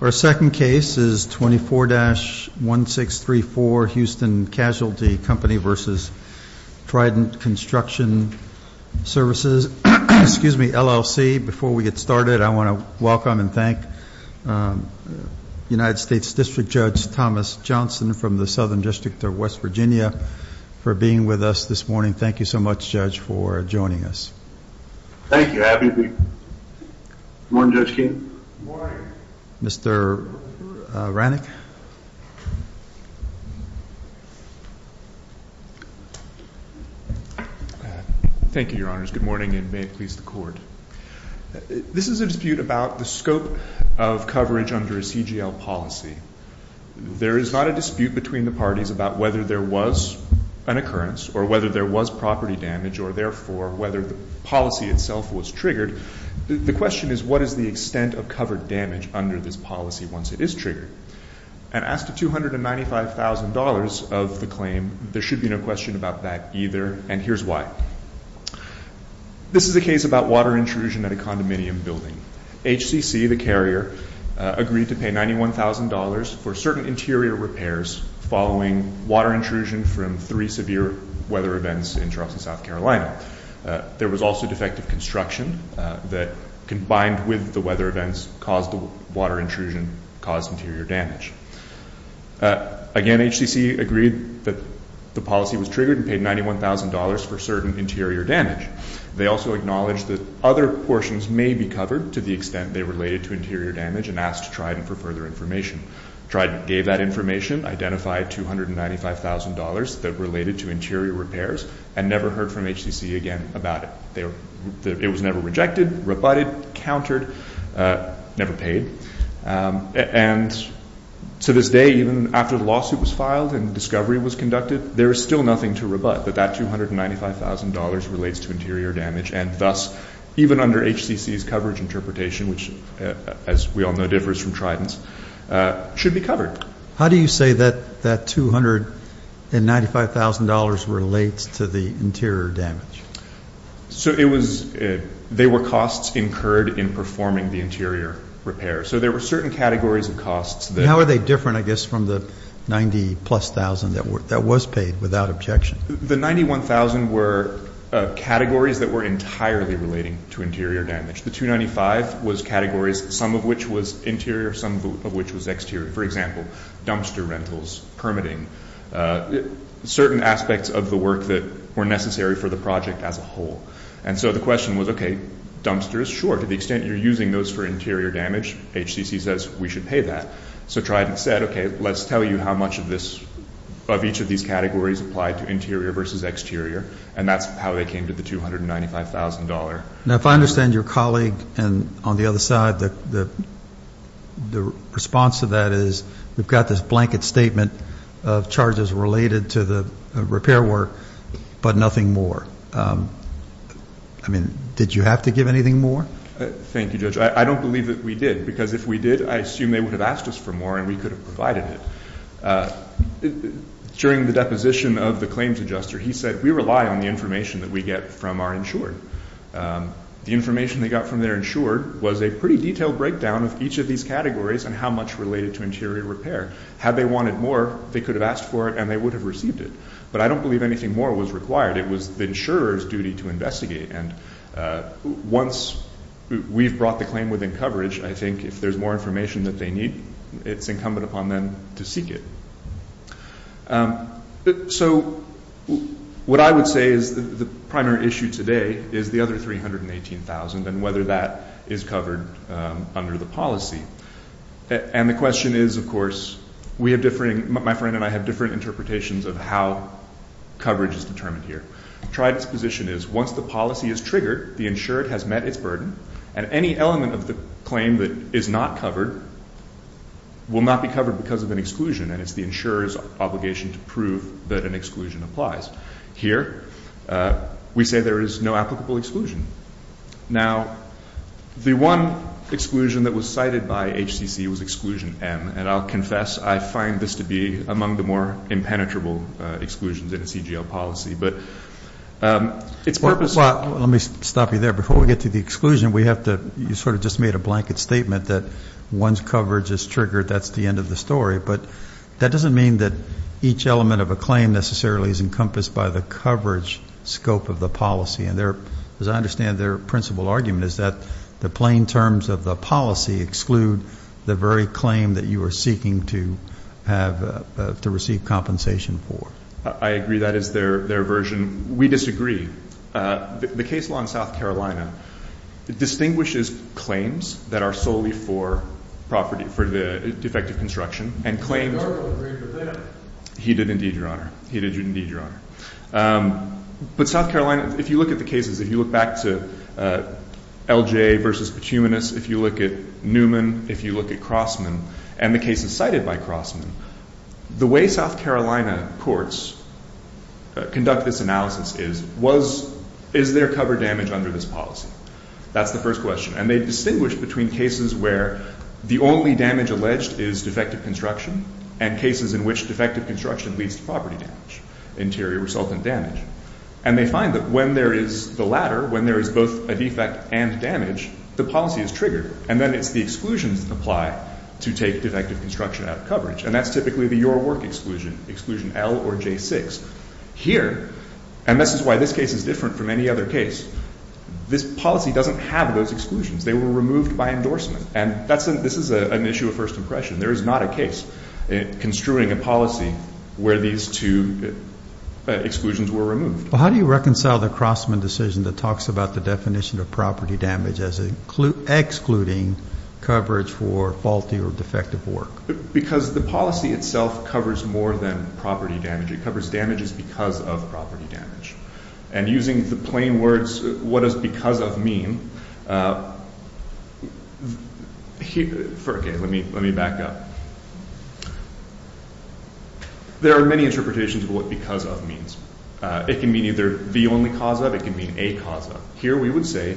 Our second case is 24-1634 Houston Casualty Company v. Trident Construction Services, LLC. Before we get started, I want to welcome and thank United States District Judge Thomas Johnson from the Southern District of West Virginia for being with us this morning. Thank you so much, Judge, for joining us. Thank you. Happy to be here. Good morning, Judge Keene. Good morning. Mr. Rannick? Thank you, Your Honors. Good morning, and may it please the Court. This is a dispute about the scope of coverage under a CGL policy. There is not a dispute between the parties about whether there was an occurrence or whether there was property damage or, therefore, whether the policy itself was triggered. The question is, what is the extent of covered damage under this policy once it is triggered? And as to $295,000 of the claim, there should be no question about that either, and here's why. This is a case about water intrusion at a condominium building. HCC, the carrier, agreed to pay $91,000 for certain interior repairs following water intrusion from three severe weather events in Charleston, South Carolina. There was also defective construction that, combined with the weather events, caused the water intrusion, caused interior damage. Again, HCC agreed that the policy was triggered and paid $91,000 for certain interior damage. They also acknowledged that other portions may be covered to the extent they related to interior damage and asked Trident for further information. Trident gave that information, identified $295,000 that related to interior repairs, and never heard from HCC again about it. It was never rejected, rebutted, countered, never paid. And to this day, even after the lawsuit was filed and discovery was conducted, there is still nothing to rebut that that $295,000 relates to interior damage. And thus, even under HCC's coverage interpretation, which, as we all know, differs from Trident's, should be covered. How do you say that that $295,000 relates to the interior damage? So it was they were costs incurred in performing the interior repair. So there were certain categories of costs. How are they different, I guess, from the $90,000-plus that was paid without objection? The $91,000 were categories that were entirely relating to interior damage. The $295,000 was categories, some of which was interior, some of which was exterior. For example, dumpster rentals, permitting, certain aspects of the work that were necessary for the project as a whole. And so the question was, okay, dumpsters, sure, to the extent you're using those for interior damage, HCC says we should pay that. So Trident said, okay, let's tell you how much of each of these categories applied to interior versus exterior. And that's how they came to the $295,000. Now, if I understand your colleague on the other side, the response to that is we've got this blanket statement of charges related to the repair work, but nothing more. I mean, did you have to give anything more? Thank you, Judge. I don't believe that we did, because if we did, I assume they would have asked us for more and we could have provided it. During the deposition of the claims adjuster, he said we rely on the information that we get from our insured. The information they got from their insured was a pretty detailed breakdown of each of these categories and how much related to interior repair. Had they wanted more, they could have asked for it and they would have received it. But I don't believe anything more was required. It was the insurer's duty to investigate. And once we've brought the claim within coverage, I think if there's more information that they need, it's incumbent upon them to seek it. So what I would say is the primary issue today is the other $318,000 and whether that is covered under the policy. And the question is, of course, my friend and I have different interpretations of how coverage is determined here. Trident's position is once the policy is triggered, the insured has met its burden, and any element of the claim that is not covered will not be covered because of an exclusion, and it's the insurer's obligation to prove that an exclusion applies. Here, we say there is no applicable exclusion. Now, the one exclusion that was cited by HCC was exclusion M, and I'll confess I find this to be among the more impenetrable exclusions in a CGL policy. But it's purposeful. Let me stop you there. Before we get to the exclusion, you sort of just made a blanket statement that once coverage is triggered, that's the end of the story. But that doesn't mean that each element of a claim necessarily is encompassed by the coverage scope of the policy. And as I understand their principal argument is that the plain terms of the policy exclude the very claim that you are seeking to receive compensation for. I agree that is their version. We disagree. The case law in South Carolina distinguishes claims that are solely for property, for the defective construction, and claims. He did indeed, Your Honor. He did indeed, Your Honor. But South Carolina, if you look at the cases, if you look back to LJ v. Petunias, if you look at Newman, if you look at Crossman, and the cases cited by Crossman, the way South Carolina courts conduct this analysis is, is there cover damage under this policy? That's the first question. And they distinguish between cases where the only damage alleged is defective construction, and cases in which defective construction leads to property damage, interior resultant damage. And they find that when there is the latter, when there is both a defect and damage, the policy is triggered. And then it's the exclusions that apply to take defective construction out of coverage. And that's typically the your work exclusion, exclusion L or J6. Here, and this is why this case is different from any other case, this policy doesn't have those exclusions. They were removed by endorsement. And this is an issue of first impression. There is not a case construing a policy where these two exclusions were removed. Well, how do you reconcile the Crossman decision that talks about the definition of property damage as excluding coverage for faulty or defective work? Because the policy itself covers more than property damage. It covers damages because of property damage. And using the plain words, what does because of mean? Okay, let me back up. There are many interpretations of what because of means. It can mean either the only cause of, it can mean a cause of. Here we would say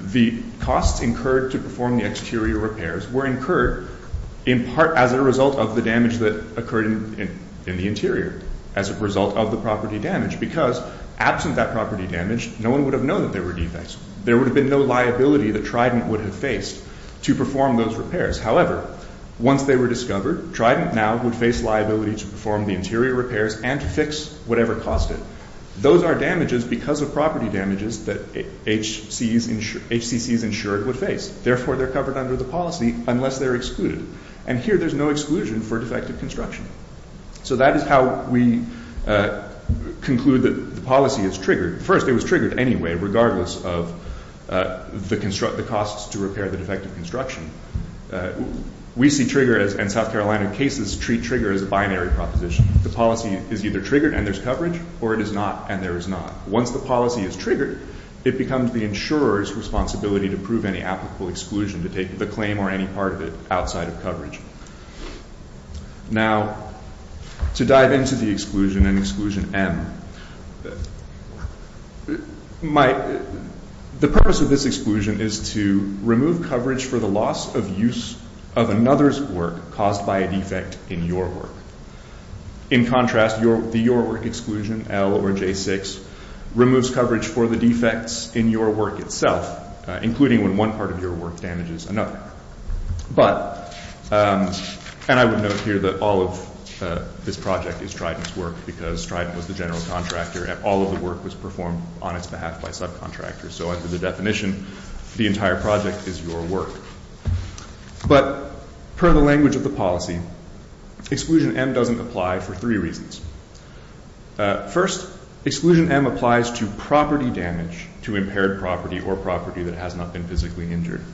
the costs incurred to perform the exterior repairs were incurred in part as a result of the damage that occurred in the interior as a result of the property damage. Because absent that property damage, no one would have known that there were defects. There would have been no liability that Trident would have faced to perform those repairs. However, once they were discovered, Trident now would face liability to perform the interior repairs and to fix whatever caused it. Those are damages because of property damages that HCCs insured would face. Therefore, they're covered under the policy unless they're excluded. And here there's no exclusion for defective construction. So that is how we conclude that the policy is triggered. First, it was triggered anyway regardless of the costs to repair the defective construction. We see trigger and South Carolina cases treat trigger as a binary proposition. The policy is either triggered and there's coverage or it is not and there is not. Once the policy is triggered, it becomes the insurer's responsibility to prove any applicable exclusion to take the claim or any part of it outside of coverage. Now, to dive into the exclusion and exclusion M. The purpose of this exclusion is to remove coverage for the loss of use of another's work caused by a defect in your work. In contrast, the your work exclusion, L or J6, removes coverage for the defects in your work itself, including when one part of your work damages another. But, and I would note here that all of this project is Striden's work because Striden was the general contractor and all of the work was performed on its behalf by subcontractors. So under the definition, the entire project is your work. But per the language of the policy, exclusion M doesn't apply for three reasons. First, exclusion M applies to property damage to impaired property or property that has not been physically injured.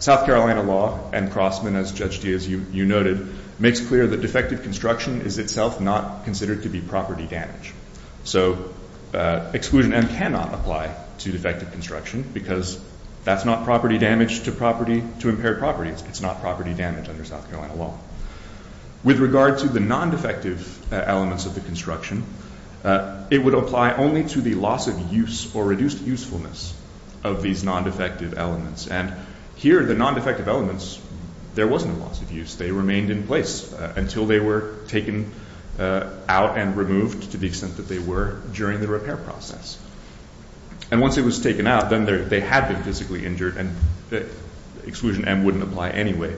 South Carolina law and Crossman, as Judge Diaz, you noted, makes clear that defective construction is itself not considered to be property damage. So exclusion M cannot apply to defective construction because that's not property damage to property, to impaired properties. It's not property damage under South Carolina law. With regard to the non-defective elements of the construction, it would apply only to the loss of use or reduced usefulness of these non-defective elements. And here, the non-defective elements, there was no loss of use. They remained in place until they were taken out and removed to the extent that they were during the repair process. And once it was taken out, then they had been physically injured and exclusion M wouldn't apply anyway.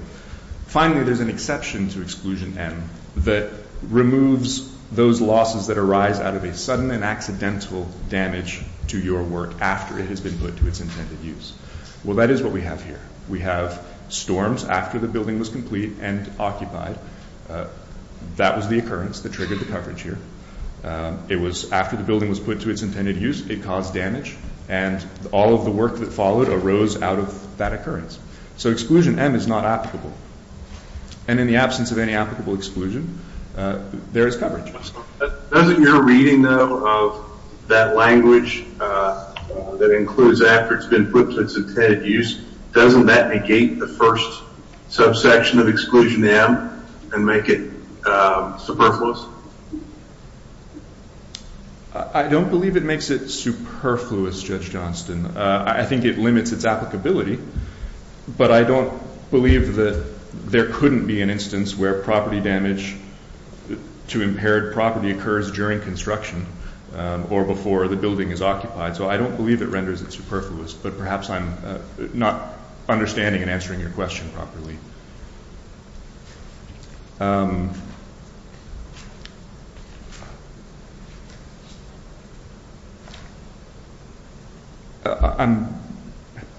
Finally, there's an exception to exclusion M that removes those losses that arise out of a sudden and accidental damage to your work after it has been put to its intended use. Well, that is what we have here. We have storms after the building was complete and occupied. That was the occurrence that triggered the coverage here. It was after the building was put to its intended use, it caused damage, and all of the work that followed arose out of that occurrence. So exclusion M is not applicable. And in the absence of any applicable exclusion, there is coverage. Doesn't your reading, though, of that language that includes after it's been put to its intended use, doesn't that negate the first subsection of exclusion M and make it superfluous? I don't believe it makes it superfluous, Judge Johnston. I think it limits its applicability, but I don't believe that there couldn't be an instance where property damage to impaired property occurs during construction or before the building is occupied. So I don't believe it renders it superfluous, but perhaps I'm not understanding and answering your question properly. Thank you. I'm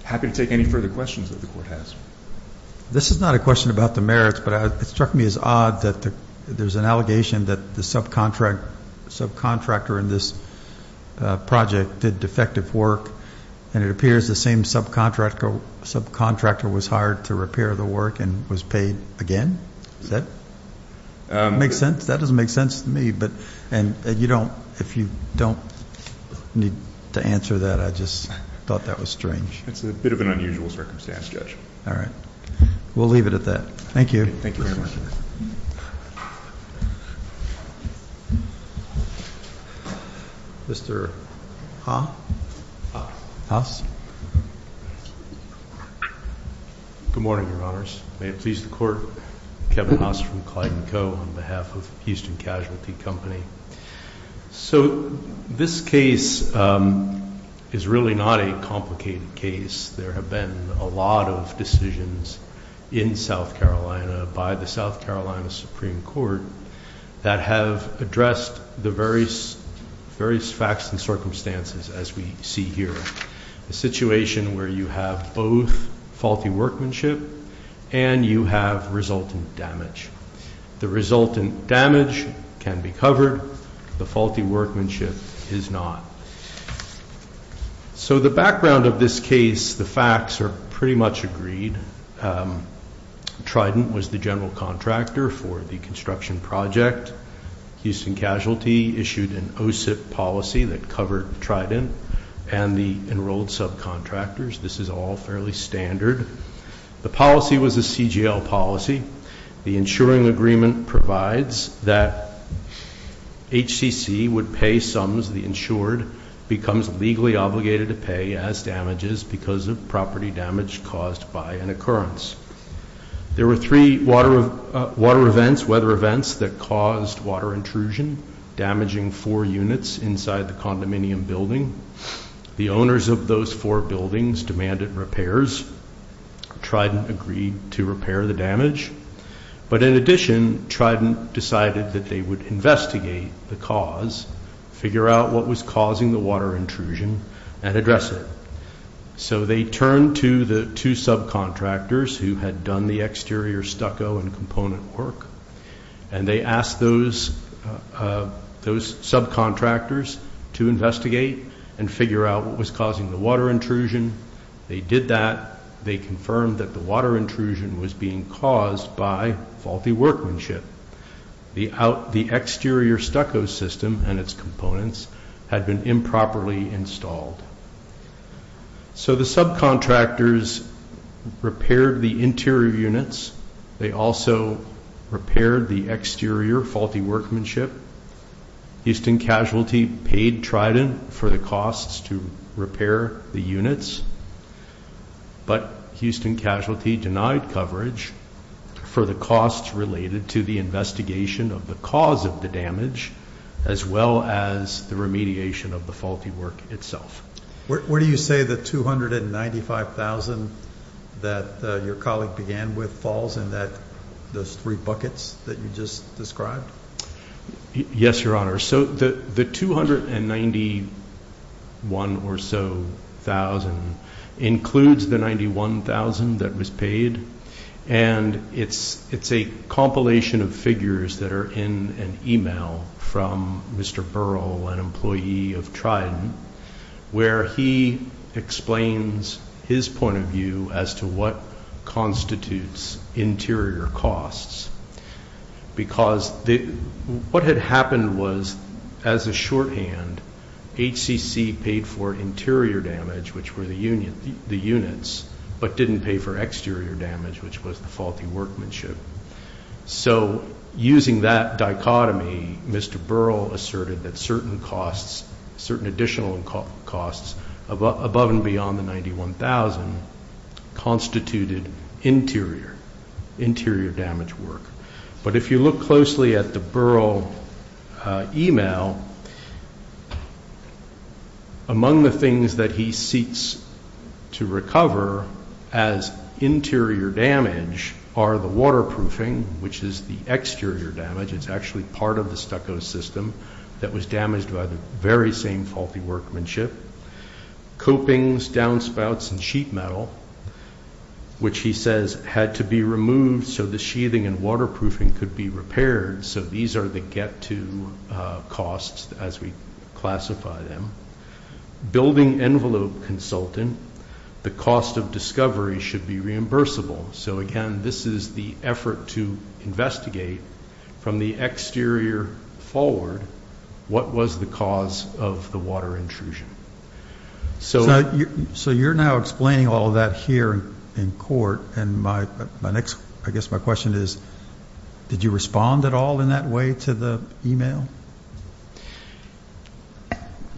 happy to take any further questions that the Court has. This is not a question about the merits, but it struck me as odd that there's an allegation that the subcontractor in this project did defective work and it appears the same subcontractor was hired to repair the work and was paid again. Does that make sense? That doesn't make sense to me. And if you don't need to answer that, I just thought that was strange. It's a bit of an unusual circumstance, Judge. All right. We'll leave it at that. Thank you. Thank you very much. Mr. Haas. Good morning, Your Honors. May it please the Court, Kevin Haas from Clayton Co. on behalf of Houston Casualty Company. So this case is really not a complicated case. There have been a lot of decisions in South Carolina by the South Carolina Supreme Court that have addressed the various facts and circumstances, as we see here, a situation where you have both faulty workmanship and you have resultant damage. The resultant damage can be covered. The faulty workmanship is not. So the background of this case, the facts are pretty much agreed. Trident was the general contractor for the construction project. Houston Casualty issued an OSIP policy that covered Trident and the enrolled subcontractors. This is all fairly standard. The policy was a CGL policy. The insuring agreement provides that HCC would pay sums the insured becomes legally obligated to pay as damages because of property damage caused by an occurrence. There were three water events, weather events that caused water intrusion, damaging four units inside the condominium building. The owners of those four buildings demanded repairs. Trident agreed to repair the damage. But in addition, Trident decided that they would investigate the cause, figure out what was causing the water intrusion, and address it. So they turned to the two subcontractors who had done the exterior stucco and component work, and they asked those subcontractors to investigate and figure out what was causing the water intrusion. They did that. They confirmed that the water intrusion was being caused by faulty workmanship. The exterior stucco system and its components had been improperly installed. So the subcontractors repaired the interior units. They also repaired the exterior faulty workmanship. Houston Casualty paid Trident for the costs to repair the units, but Houston Casualty denied coverage for the costs related to the investigation of the cause of the damage, as well as the remediation of the faulty work itself. Where do you say the $295,000 that your colleague began with falls in those three buckets that you just described? Yes, Your Honor. So the $291,000 or so includes the $91,000 that was paid, and it's a compilation of figures that are in an email from Mr. Burrell, an employee of Trident, where he explains his point of view as to what constitutes interior costs. Because what had happened was, as a shorthand, HCC paid for interior damage, which were the units, but didn't pay for exterior damage, which was the faulty workmanship. So using that dichotomy, Mr. Burrell asserted that certain additional costs above and beyond the $91,000 constituted interior damage work. But if you look closely at the Burrell email, among the things that he seeks to recover as interior damage are the waterproofing, which is the exterior damage. It's actually part of the stucco system that was damaged by the very same faulty workmanship. Copings, downspouts, and sheet metal, which he says had to be removed so the sheathing and waterproofing could be repaired. So these are the get-to costs as we classify them. Building envelope consultant, the cost of discovery should be reimbursable. So, again, this is the effort to investigate from the exterior forward what was the cause of the water intrusion. So you're now explaining all of that here in court, and my next, I guess my question is, did you respond at all in that way to the email?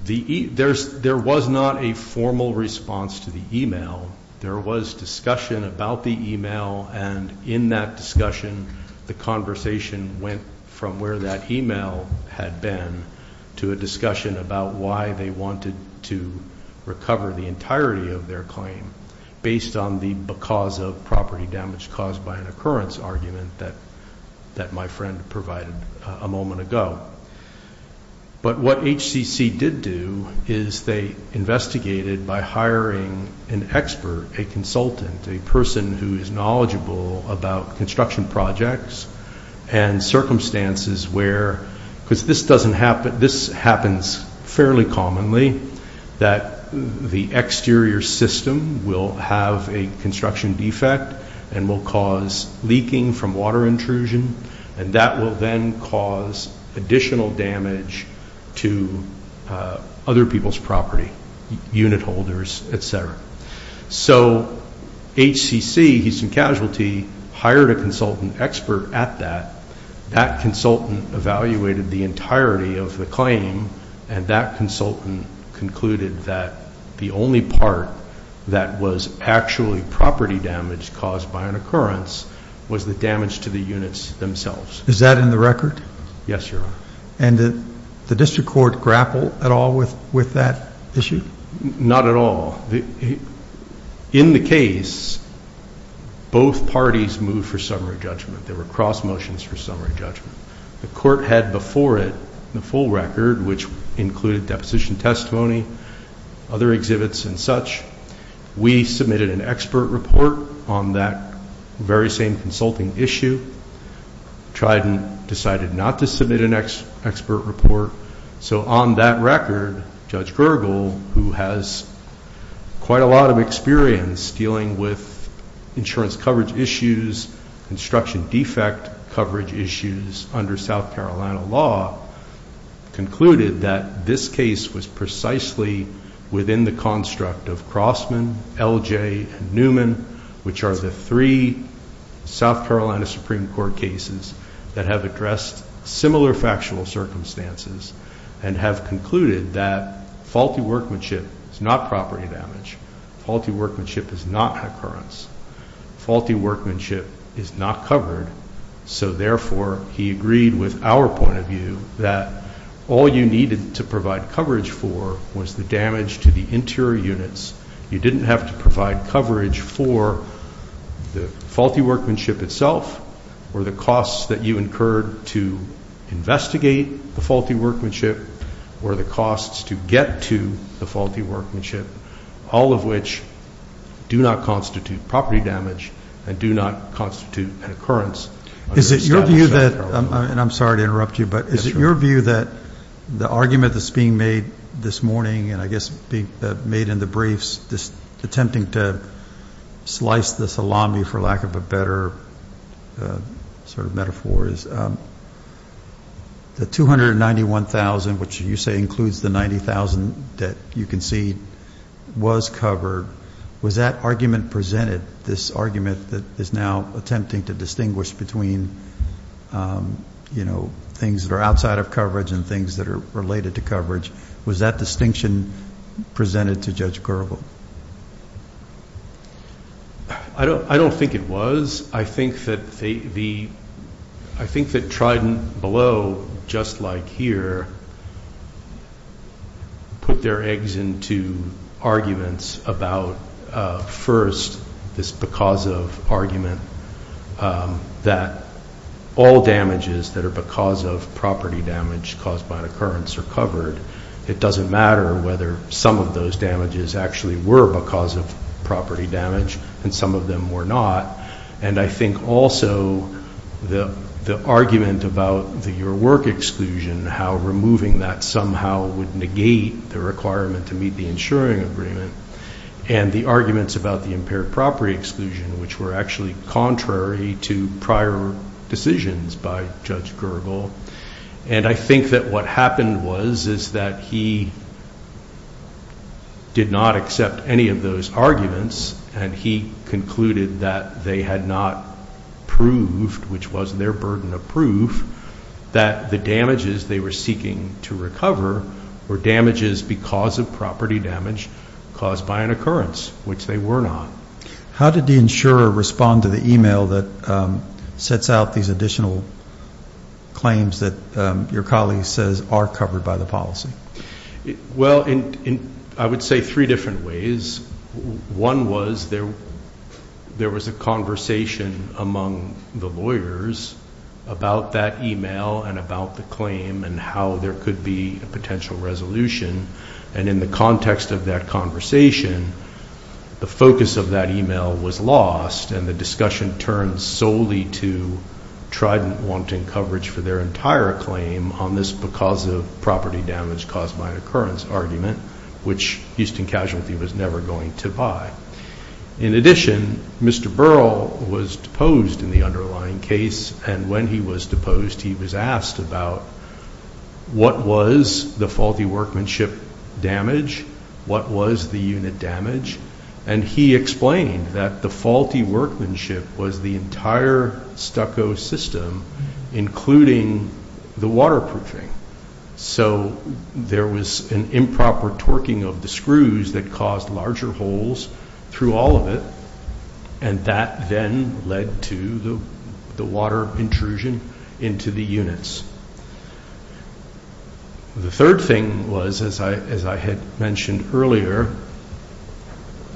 There was not a formal response to the email. There was discussion about the email, and in that discussion, the conversation went from where that email had been to a discussion about why they wanted to recover the entirety of their claim based on the because of property damage caused by an occurrence argument that my friend provided a moment ago. But what HCC did do is they investigated by hiring an expert, a consultant, a person who is knowledgeable about construction projects and circumstances where, because this happens fairly commonly, that the exterior system will have a construction defect and will cause leaking from water intrusion, and that will then cause additional damage to other people's property, unit holders, et cetera. So HCC, Houston Casualty, hired a consultant expert at that. That consultant evaluated the entirety of the claim, and that consultant concluded that the only part that was actually property damage caused by an occurrence was the damage to the units themselves. Is that in the record? Yes, Your Honor. And did the district court grapple at all with that issue? Not at all. In the case, both parties moved for summary judgment. There were cross motions for summary judgment. The court had before it the full record, which included deposition testimony, other exhibits and such. We submitted an expert report on that very same consulting issue. Trident decided not to submit an expert report. So on that record, Judge Gergel, who has quite a lot of experience dealing with insurance coverage issues, construction defect coverage issues under South Carolina law, concluded that this case was precisely within the construct of Crossman, LJ, and Newman, which are the three South Carolina Supreme Court cases that have addressed similar factual circumstances and have concluded that faulty workmanship is not property damage. Faulty workmanship is not an occurrence. Faulty workmanship is not covered. So therefore, he agreed with our point of view that all you needed to provide coverage for was the damage to the interior units. You didn't have to provide coverage for the faulty workmanship itself or the costs that you incurred to investigate the faulty workmanship or the costs to get to the faulty workmanship, all of which do not constitute property damage and do not constitute an occurrence. Is it your view that, and I'm sorry to interrupt you, but is it your view that the argument that's being made this morning and I guess made in the briefs attempting to slice the salami, for lack of a better sort of metaphor, is the $291,000, which you say includes the $90,000 that you concede was covered, was that argument presented, this argument that is now attempting to distinguish between things that are outside of coverage and things that are related to coverage, was that distinction presented to Judge Garbo? I don't think it was. I think that Trident Below, just like here, put their eggs into arguments about first this because of argument that all damages that are because of property damage caused by an occurrence are covered. It doesn't matter whether some of those damages actually were because of property damage and some of them were not. And I think also the argument about the your work exclusion, how removing that somehow would negate the requirement to meet the insuring agreement, and the arguments about the impaired property exclusion, which were actually contrary to prior decisions by Judge Garbo. And I think that what happened was is that he did not accept any of those arguments and he concluded that they had not proved, which was their burden of proof, that the damages they were seeking to recover were damages because of property damage caused by an occurrence, which they were not. How did the insurer respond to the email that sets out these additional claims that your colleague says are covered by the policy? Well, I would say three different ways. One was there was a conversation among the lawyers about that email and about the claim and how there could be a potential resolution. And in the context of that conversation, the focus of that email was lost and the discussion turned solely to Trident wanting coverage for their entire claim on this because of property damage caused by an occurrence argument, which Houston Casualty was never going to buy. In addition, Mr. Burrell was deposed in the underlying case, and when he was deposed he was asked about what was the faulty workmanship damage, what was the unit damage, and he explained that the faulty workmanship was the entire stucco system, including the waterproofing. So there was an improper torquing of the screws that caused larger holes through all of it, and that then led to the water intrusion into the units. The third thing was, as I had mentioned earlier,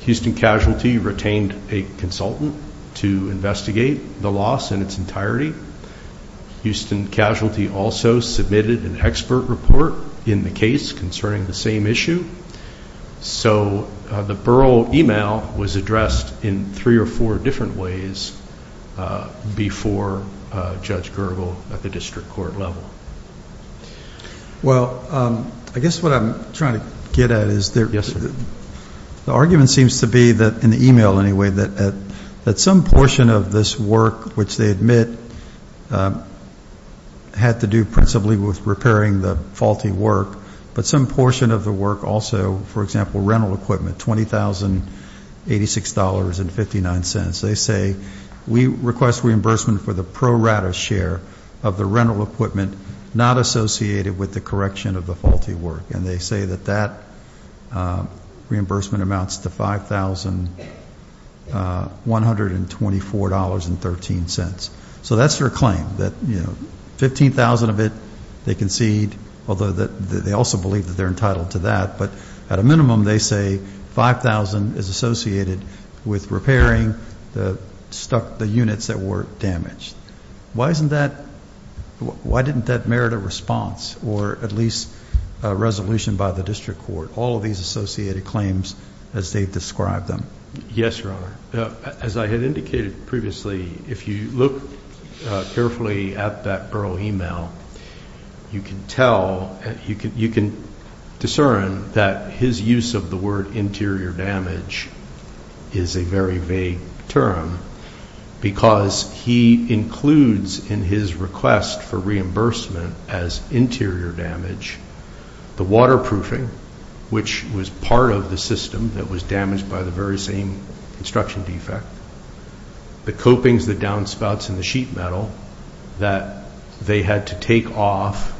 Houston Casualty retained a consultant to investigate the loss in its entirety Houston Casualty also submitted an expert report in the case concerning the same issue. So the Burrell email was addressed in three or four different ways before Judge Gergel at the district court level. Well, I guess what I'm trying to get at is the argument seems to be, in the email anyway, that some portion of this work, which they admit had to do principally with repairing the faulty work, but some portion of the work also, for example, rental equipment, $20,086.59. They say, we request reimbursement for the pro rata share of the rental equipment not associated with the correction of the faulty work, and they say that that reimbursement amounts to $5,124.13. So that's their claim, that $15,000 of it they concede, although they also believe that they're entitled to that. But at a minimum, they say $5,000 is associated with repairing the units that were damaged. Why didn't that merit a response or at least a resolution by the district court, all of these associated claims as they've described them? Yes, Your Honor. As I had indicated previously, if you look carefully at that Burrell email, you can discern that his use of the word interior damage is a very vague term because he includes in his request for reimbursement as interior damage the waterproofing, which was part of the system that was damaged by the very same construction defect, the copings, the downspouts, and the sheet metal that they had to take off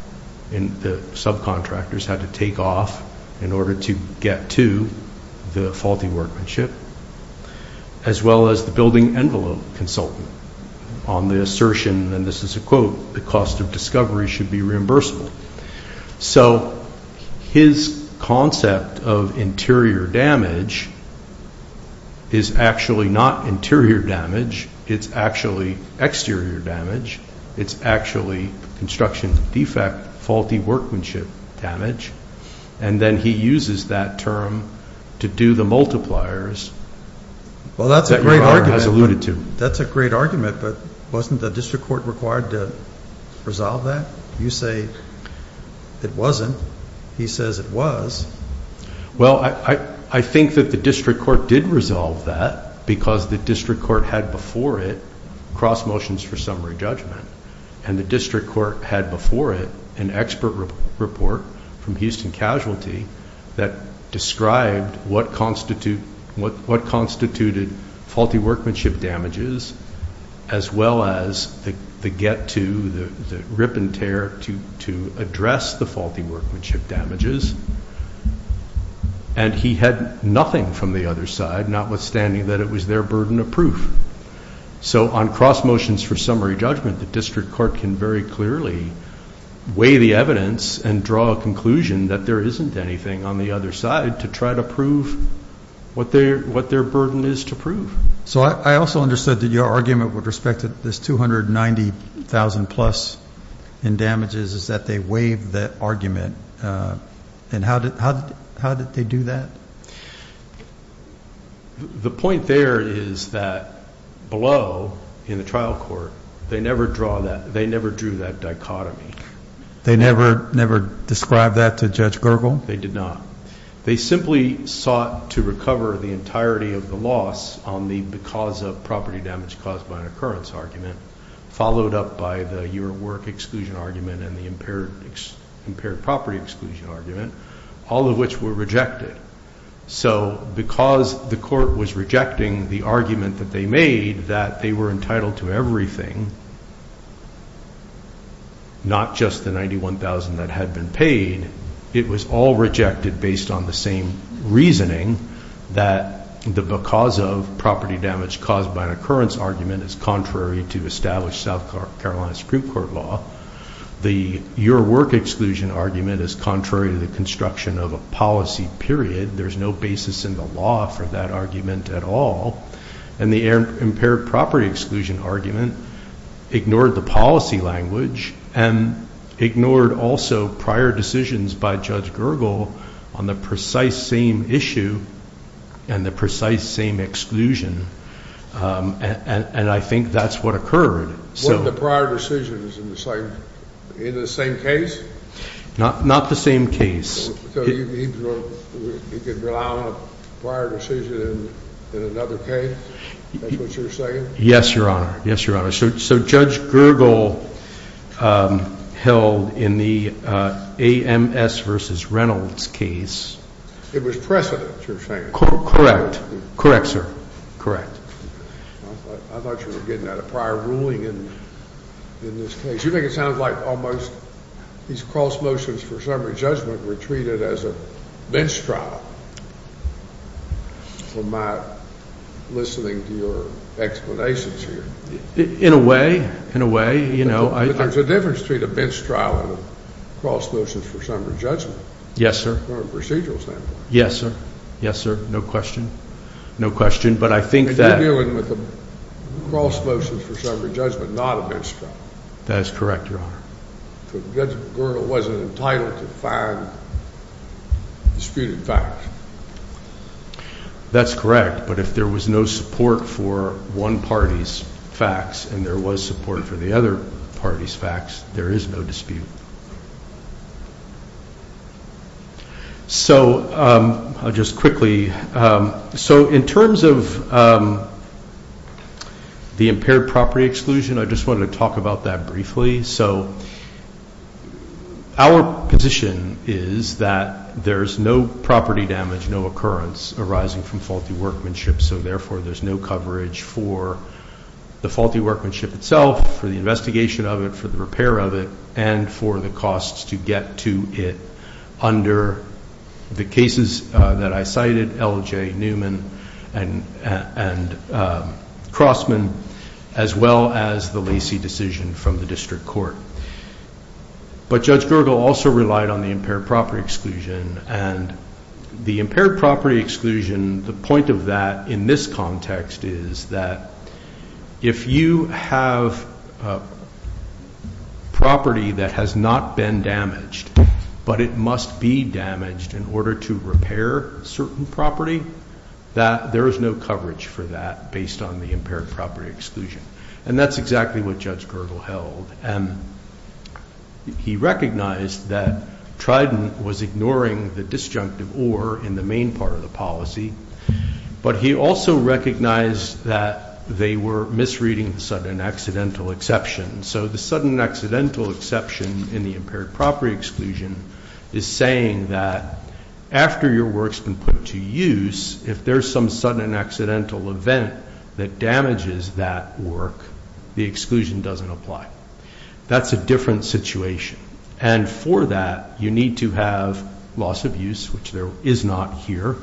and the subcontractors had to take off in order to get to the faulty workmanship, as well as the building envelope consultant on the assertion, and this is a quote, the cost of discovery should be reimbursable. So his concept of interior damage is actually not interior damage. It's actually exterior damage. It's actually construction defect, faulty workmanship damage. And then he uses that term to do the multipliers that Your Honor has alluded to. Well, that's a great argument, but wasn't the district court required to resolve that? You say it wasn't. He says it was. Well, I think that the district court did resolve that because the district court had before it cross motions for summary judgment, and the district court had before it an expert report from Houston Casualty that described what constituted faulty workmanship damages, as well as the get to, the rip and tear to address the faulty workmanship damages, and he had nothing from the other side, notwithstanding that it was their burden of proof. So on cross motions for summary judgment, the district court can very clearly weigh the evidence and draw a conclusion that there isn't anything on the other side to try to prove what their burden is to prove. So I also understood that your argument with respect to this $290,000 plus in damages is that they waived that argument, and how did they do that? The point there is that below, in the trial court, they never drew that dichotomy. They never described that to Judge Gergel? They did not. They simply sought to recover the entirety of the loss on the because of property damage caused by an occurrence argument, followed up by the year at work exclusion argument and the impaired property exclusion argument, all of which were rejected. So because the court was rejecting the argument that they made that they were entitled to everything, not just the $91,000 that had been paid, it was all rejected based on the same reasoning that the because of property damage caused by an occurrence argument is contrary to established South Carolina Supreme Court law. The year at work exclusion argument is contrary to the construction of a policy, period. There's no basis in the law for that argument at all. And the impaired property exclusion argument ignored the policy language and ignored also prior decisions by Judge Gergel on the precise same issue and the precise same exclusion, and I think that's what occurred. Were the prior decisions in the same case? Not the same case. So he could rely on a prior decision in another case? That's what you're saying? Yes, Your Honor. Yes, Your Honor. So Judge Gergel held in the AMS versus Reynolds case. It was precedent, you're saying? Correct. Correct, sir. Correct. I thought you were getting at a prior ruling in this case. You make it sound like almost these cross motions for summary judgment were treated as a bench trial from my listening to your explanations here. In a way, in a way. But there's a difference between a bench trial and a cross motion for summary judgment. Yes, sir. From a procedural standpoint. Yes, sir. Yes, sir. No question. No question, but I think that You're dealing with a cross motion for summary judgment, not a bench trial. That is correct, Your Honor. Judge Gergel wasn't entitled to find disputed facts. That's correct, but if there was no support for one party's facts and there was support for the other party's facts, there is no dispute. So I'll just quickly. So in terms of the impaired property exclusion, I just wanted to talk about that briefly. So our position is that there's no property damage, no occurrence arising from faulty workmanship, so therefore there's no coverage for the faulty workmanship itself, for the investigation of it, for the repair of it, and for the costs to get to it under the cases that I cited, L.J. Newman and Crossman, as well as the Lacey decision from the district court. But Judge Gergel also relied on the impaired property exclusion, and the impaired property exclusion, the point of that in this context is that if you have property that has not been damaged, but it must be damaged in order to repair certain property, that there is no coverage for that based on the impaired property exclusion. And that's exactly what Judge Gergel held. He recognized that Trident was ignoring the disjunctive or in the main part of the policy, but he also recognized that they were misreading the sudden accidental exception. So the sudden accidental exception in the impaired property exclusion is saying that after your work's been put to use, if there's some sudden accidental event that damages that work, the exclusion doesn't apply. That's a different situation. And for that, you need to have loss of use, which there is not here.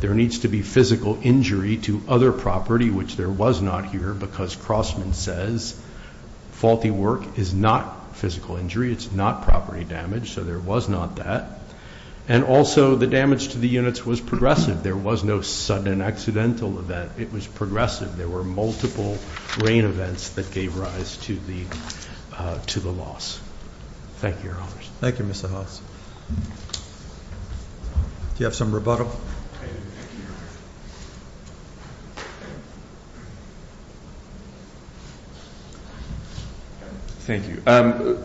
There needs to be physical injury to other property, which there was not here, because Crossman says faulty work is not physical injury. It's not property damage. So there was not that. And also the damage to the units was progressive. There was no sudden accidental event. It was progressive. There were multiple rain events that gave rise to the loss. Thank you, Your Honors. Thank you, Mr. House. Do you have some rebuttal? Thank you.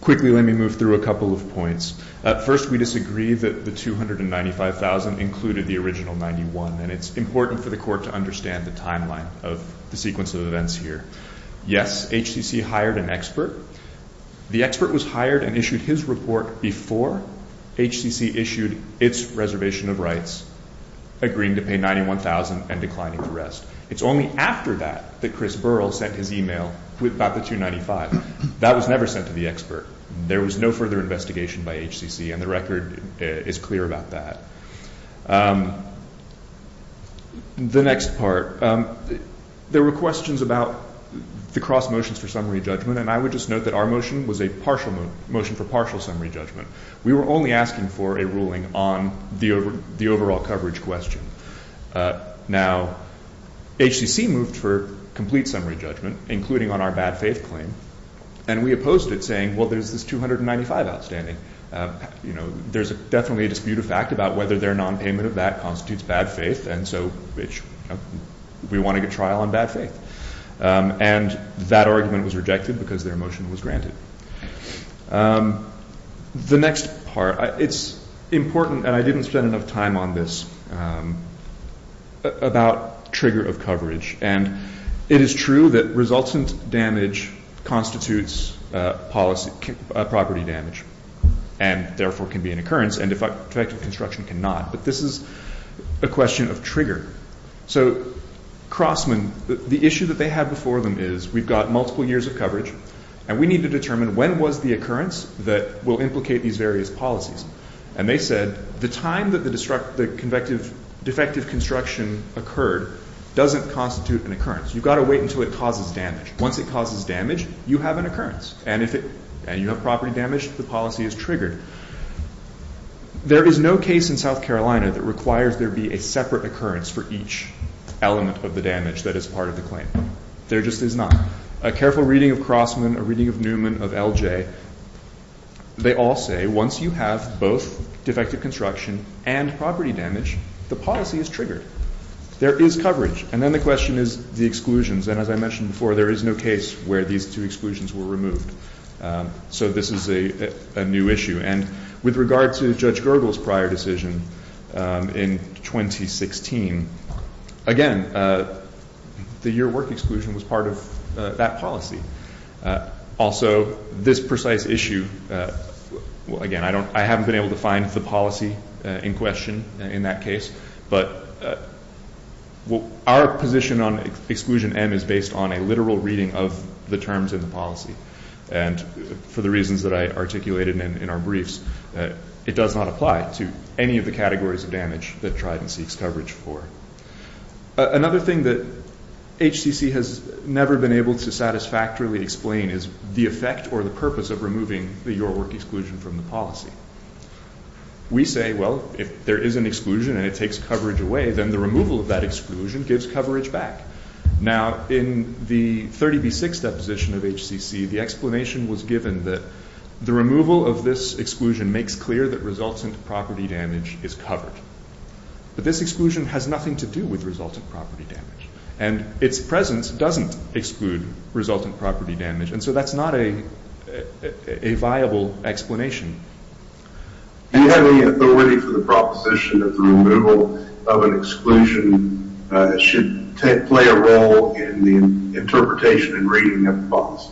Quickly, let me move through a couple of points. First, we disagree that the $295,000 included the original $91,000, and it's important for the Court to understand the timeline of the sequence of events here. Yes, HCC hired an expert. The expert was hired and issued his report before HCC issued its reservation of rights, agreeing to pay $91,000 and declining to rest. It's only after that that Chris Burrell sent his email about the $295,000. That was never sent to the expert. There was no further investigation by HCC, and the record is clear about that. The next part, there were questions about the cross motions for summary judgment, and I would just note that our motion was a motion for partial summary judgment. We were only asking for a ruling on the overall coverage question. Now, HCC moved for complete summary judgment, including on our bad faith claim, and we opposed it, saying, well, there's this $295,000 outstanding. There's definitely a dispute of fact about whether their nonpayment of that constitutes bad faith, and so we want to get trial on bad faith. And that argument was rejected because their motion was granted. The next part, it's important, and I didn't spend enough time on this, about trigger of coverage. And it is true that resultant damage constitutes property damage and therefore can be an occurrence, and defective construction cannot. But this is a question of trigger. So Crossman, the issue that they had before them is we've got multiple years of coverage, and we need to determine when was the occurrence that will implicate these various policies. And they said the time that the defective construction occurred doesn't constitute an occurrence. You've got to wait until it causes damage. Once it causes damage, you have an occurrence. And if you have property damage, the policy is triggered. There is no case in South Carolina that requires there be a separate occurrence for each element of the damage that is part of the claim. There just is not. A careful reading of Crossman, a reading of Newman, of LJ, they all say once you have both defective construction and property damage, the policy is triggered. There is coverage. And then the question is the exclusions. And as I mentioned before, there is no case where these two exclusions were removed. So this is a new issue. And with regard to Judge Gergel's prior decision in 2016, again, the year work exclusion was part of that policy. Also, this precise issue, again, I haven't been able to find the policy in question in that case. But our position on exclusion M is based on a literal reading of the terms in the policy. And for the reasons that I articulated in our briefs, it does not apply to any of the categories of damage that Trident seeks coverage for. Another thing that HCC has never been able to satisfactorily explain is the effect or the purpose of removing the year work exclusion from the policy. We say, well, if there is an exclusion and it takes coverage away, then the removal of that exclusion gives coverage back. Now, in the 30B6 deposition of HCC, the explanation was given that the removal of this exclusion makes clear that resultant property damage is covered. But this exclusion has nothing to do with resultant property damage. And its presence doesn't exclude resultant property damage. And so that's not a viable explanation. Do you have any authority for the proposition that the removal of an exclusion should play a role in the interpretation and reading of the policy?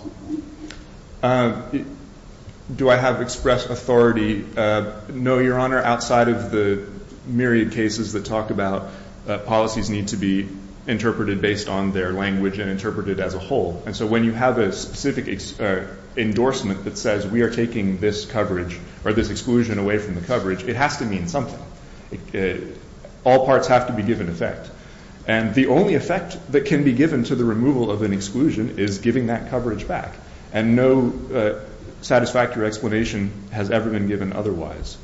Do I have express authority? No, Your Honor. Outside of the myriad cases that talk about policies need to be interpreted based on their language and interpreted as a whole. And so when you have a specific endorsement that says we are taking this coverage or this exclusion away from the coverage, it has to mean something. All parts have to be given effect. And the only effect that can be given to the removal of an exclusion is giving that coverage back. And no satisfactory explanation has ever been given otherwise.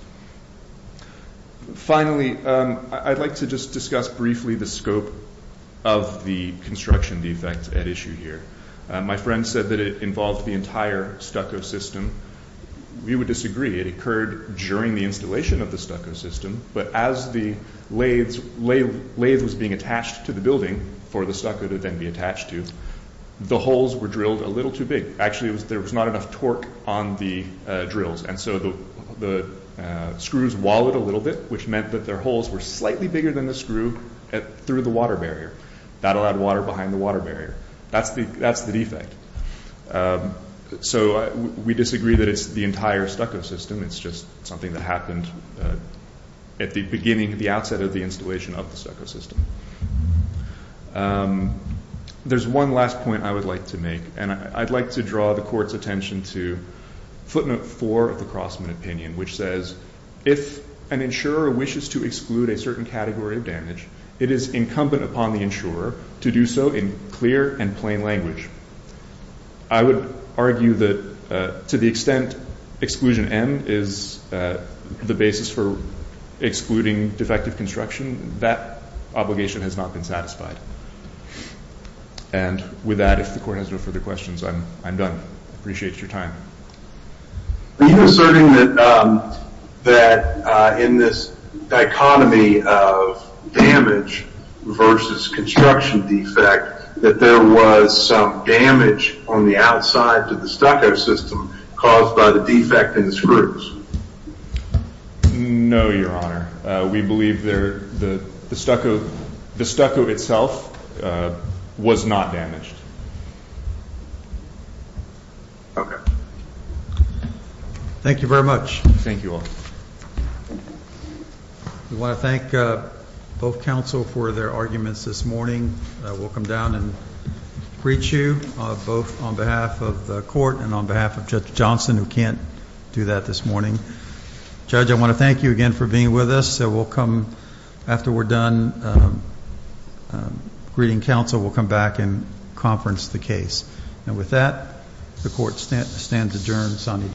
Finally, I'd like to just discuss briefly the scope of the construction defects at issue here. My friend said that it involved the entire stucco system. We would disagree. It occurred during the installation of the stucco system. But as the lathe was being attached to the building for the stucco to then be attached to, the holes were drilled a little too big. Actually, there was not enough torque on the drills. And so the screws wallowed a little bit, which meant that their holes were slightly bigger than the screw through the water barrier. That allowed water behind the water barrier. That's the defect. So we disagree that it's the entire stucco system. It's just something that happened at the beginning, the outset of the installation of the stucco system. There's one last point I would like to make. And I'd like to draw the Court's attention to footnote four of the Crossman opinion, which says, if an insurer wishes to exclude a certain category of damage, it is incumbent upon the insurer to do so in clear and plain language. I would argue that to the extent exclusion M is the basis for excluding defective construction, that obligation has not been satisfied. And with that, if the Court has no further questions, I'm done. I appreciate your time. Are you asserting that in this dichotomy of damage versus construction defect, that there was some damage on the outside to the stucco system caused by the defect in the screws? No, Your Honor. We believe the stucco itself was not damaged. Okay. Thank you very much. Thank you all. We want to thank both counsel for their arguments this morning. We'll come down and preach you both on behalf of the Court and on behalf of Judge Johnson, who can't do that this morning. Judge, I want to thank you again for being with us. After we're done greeting counsel, we'll come back and conference the case. And with that, the Court stands adjourned.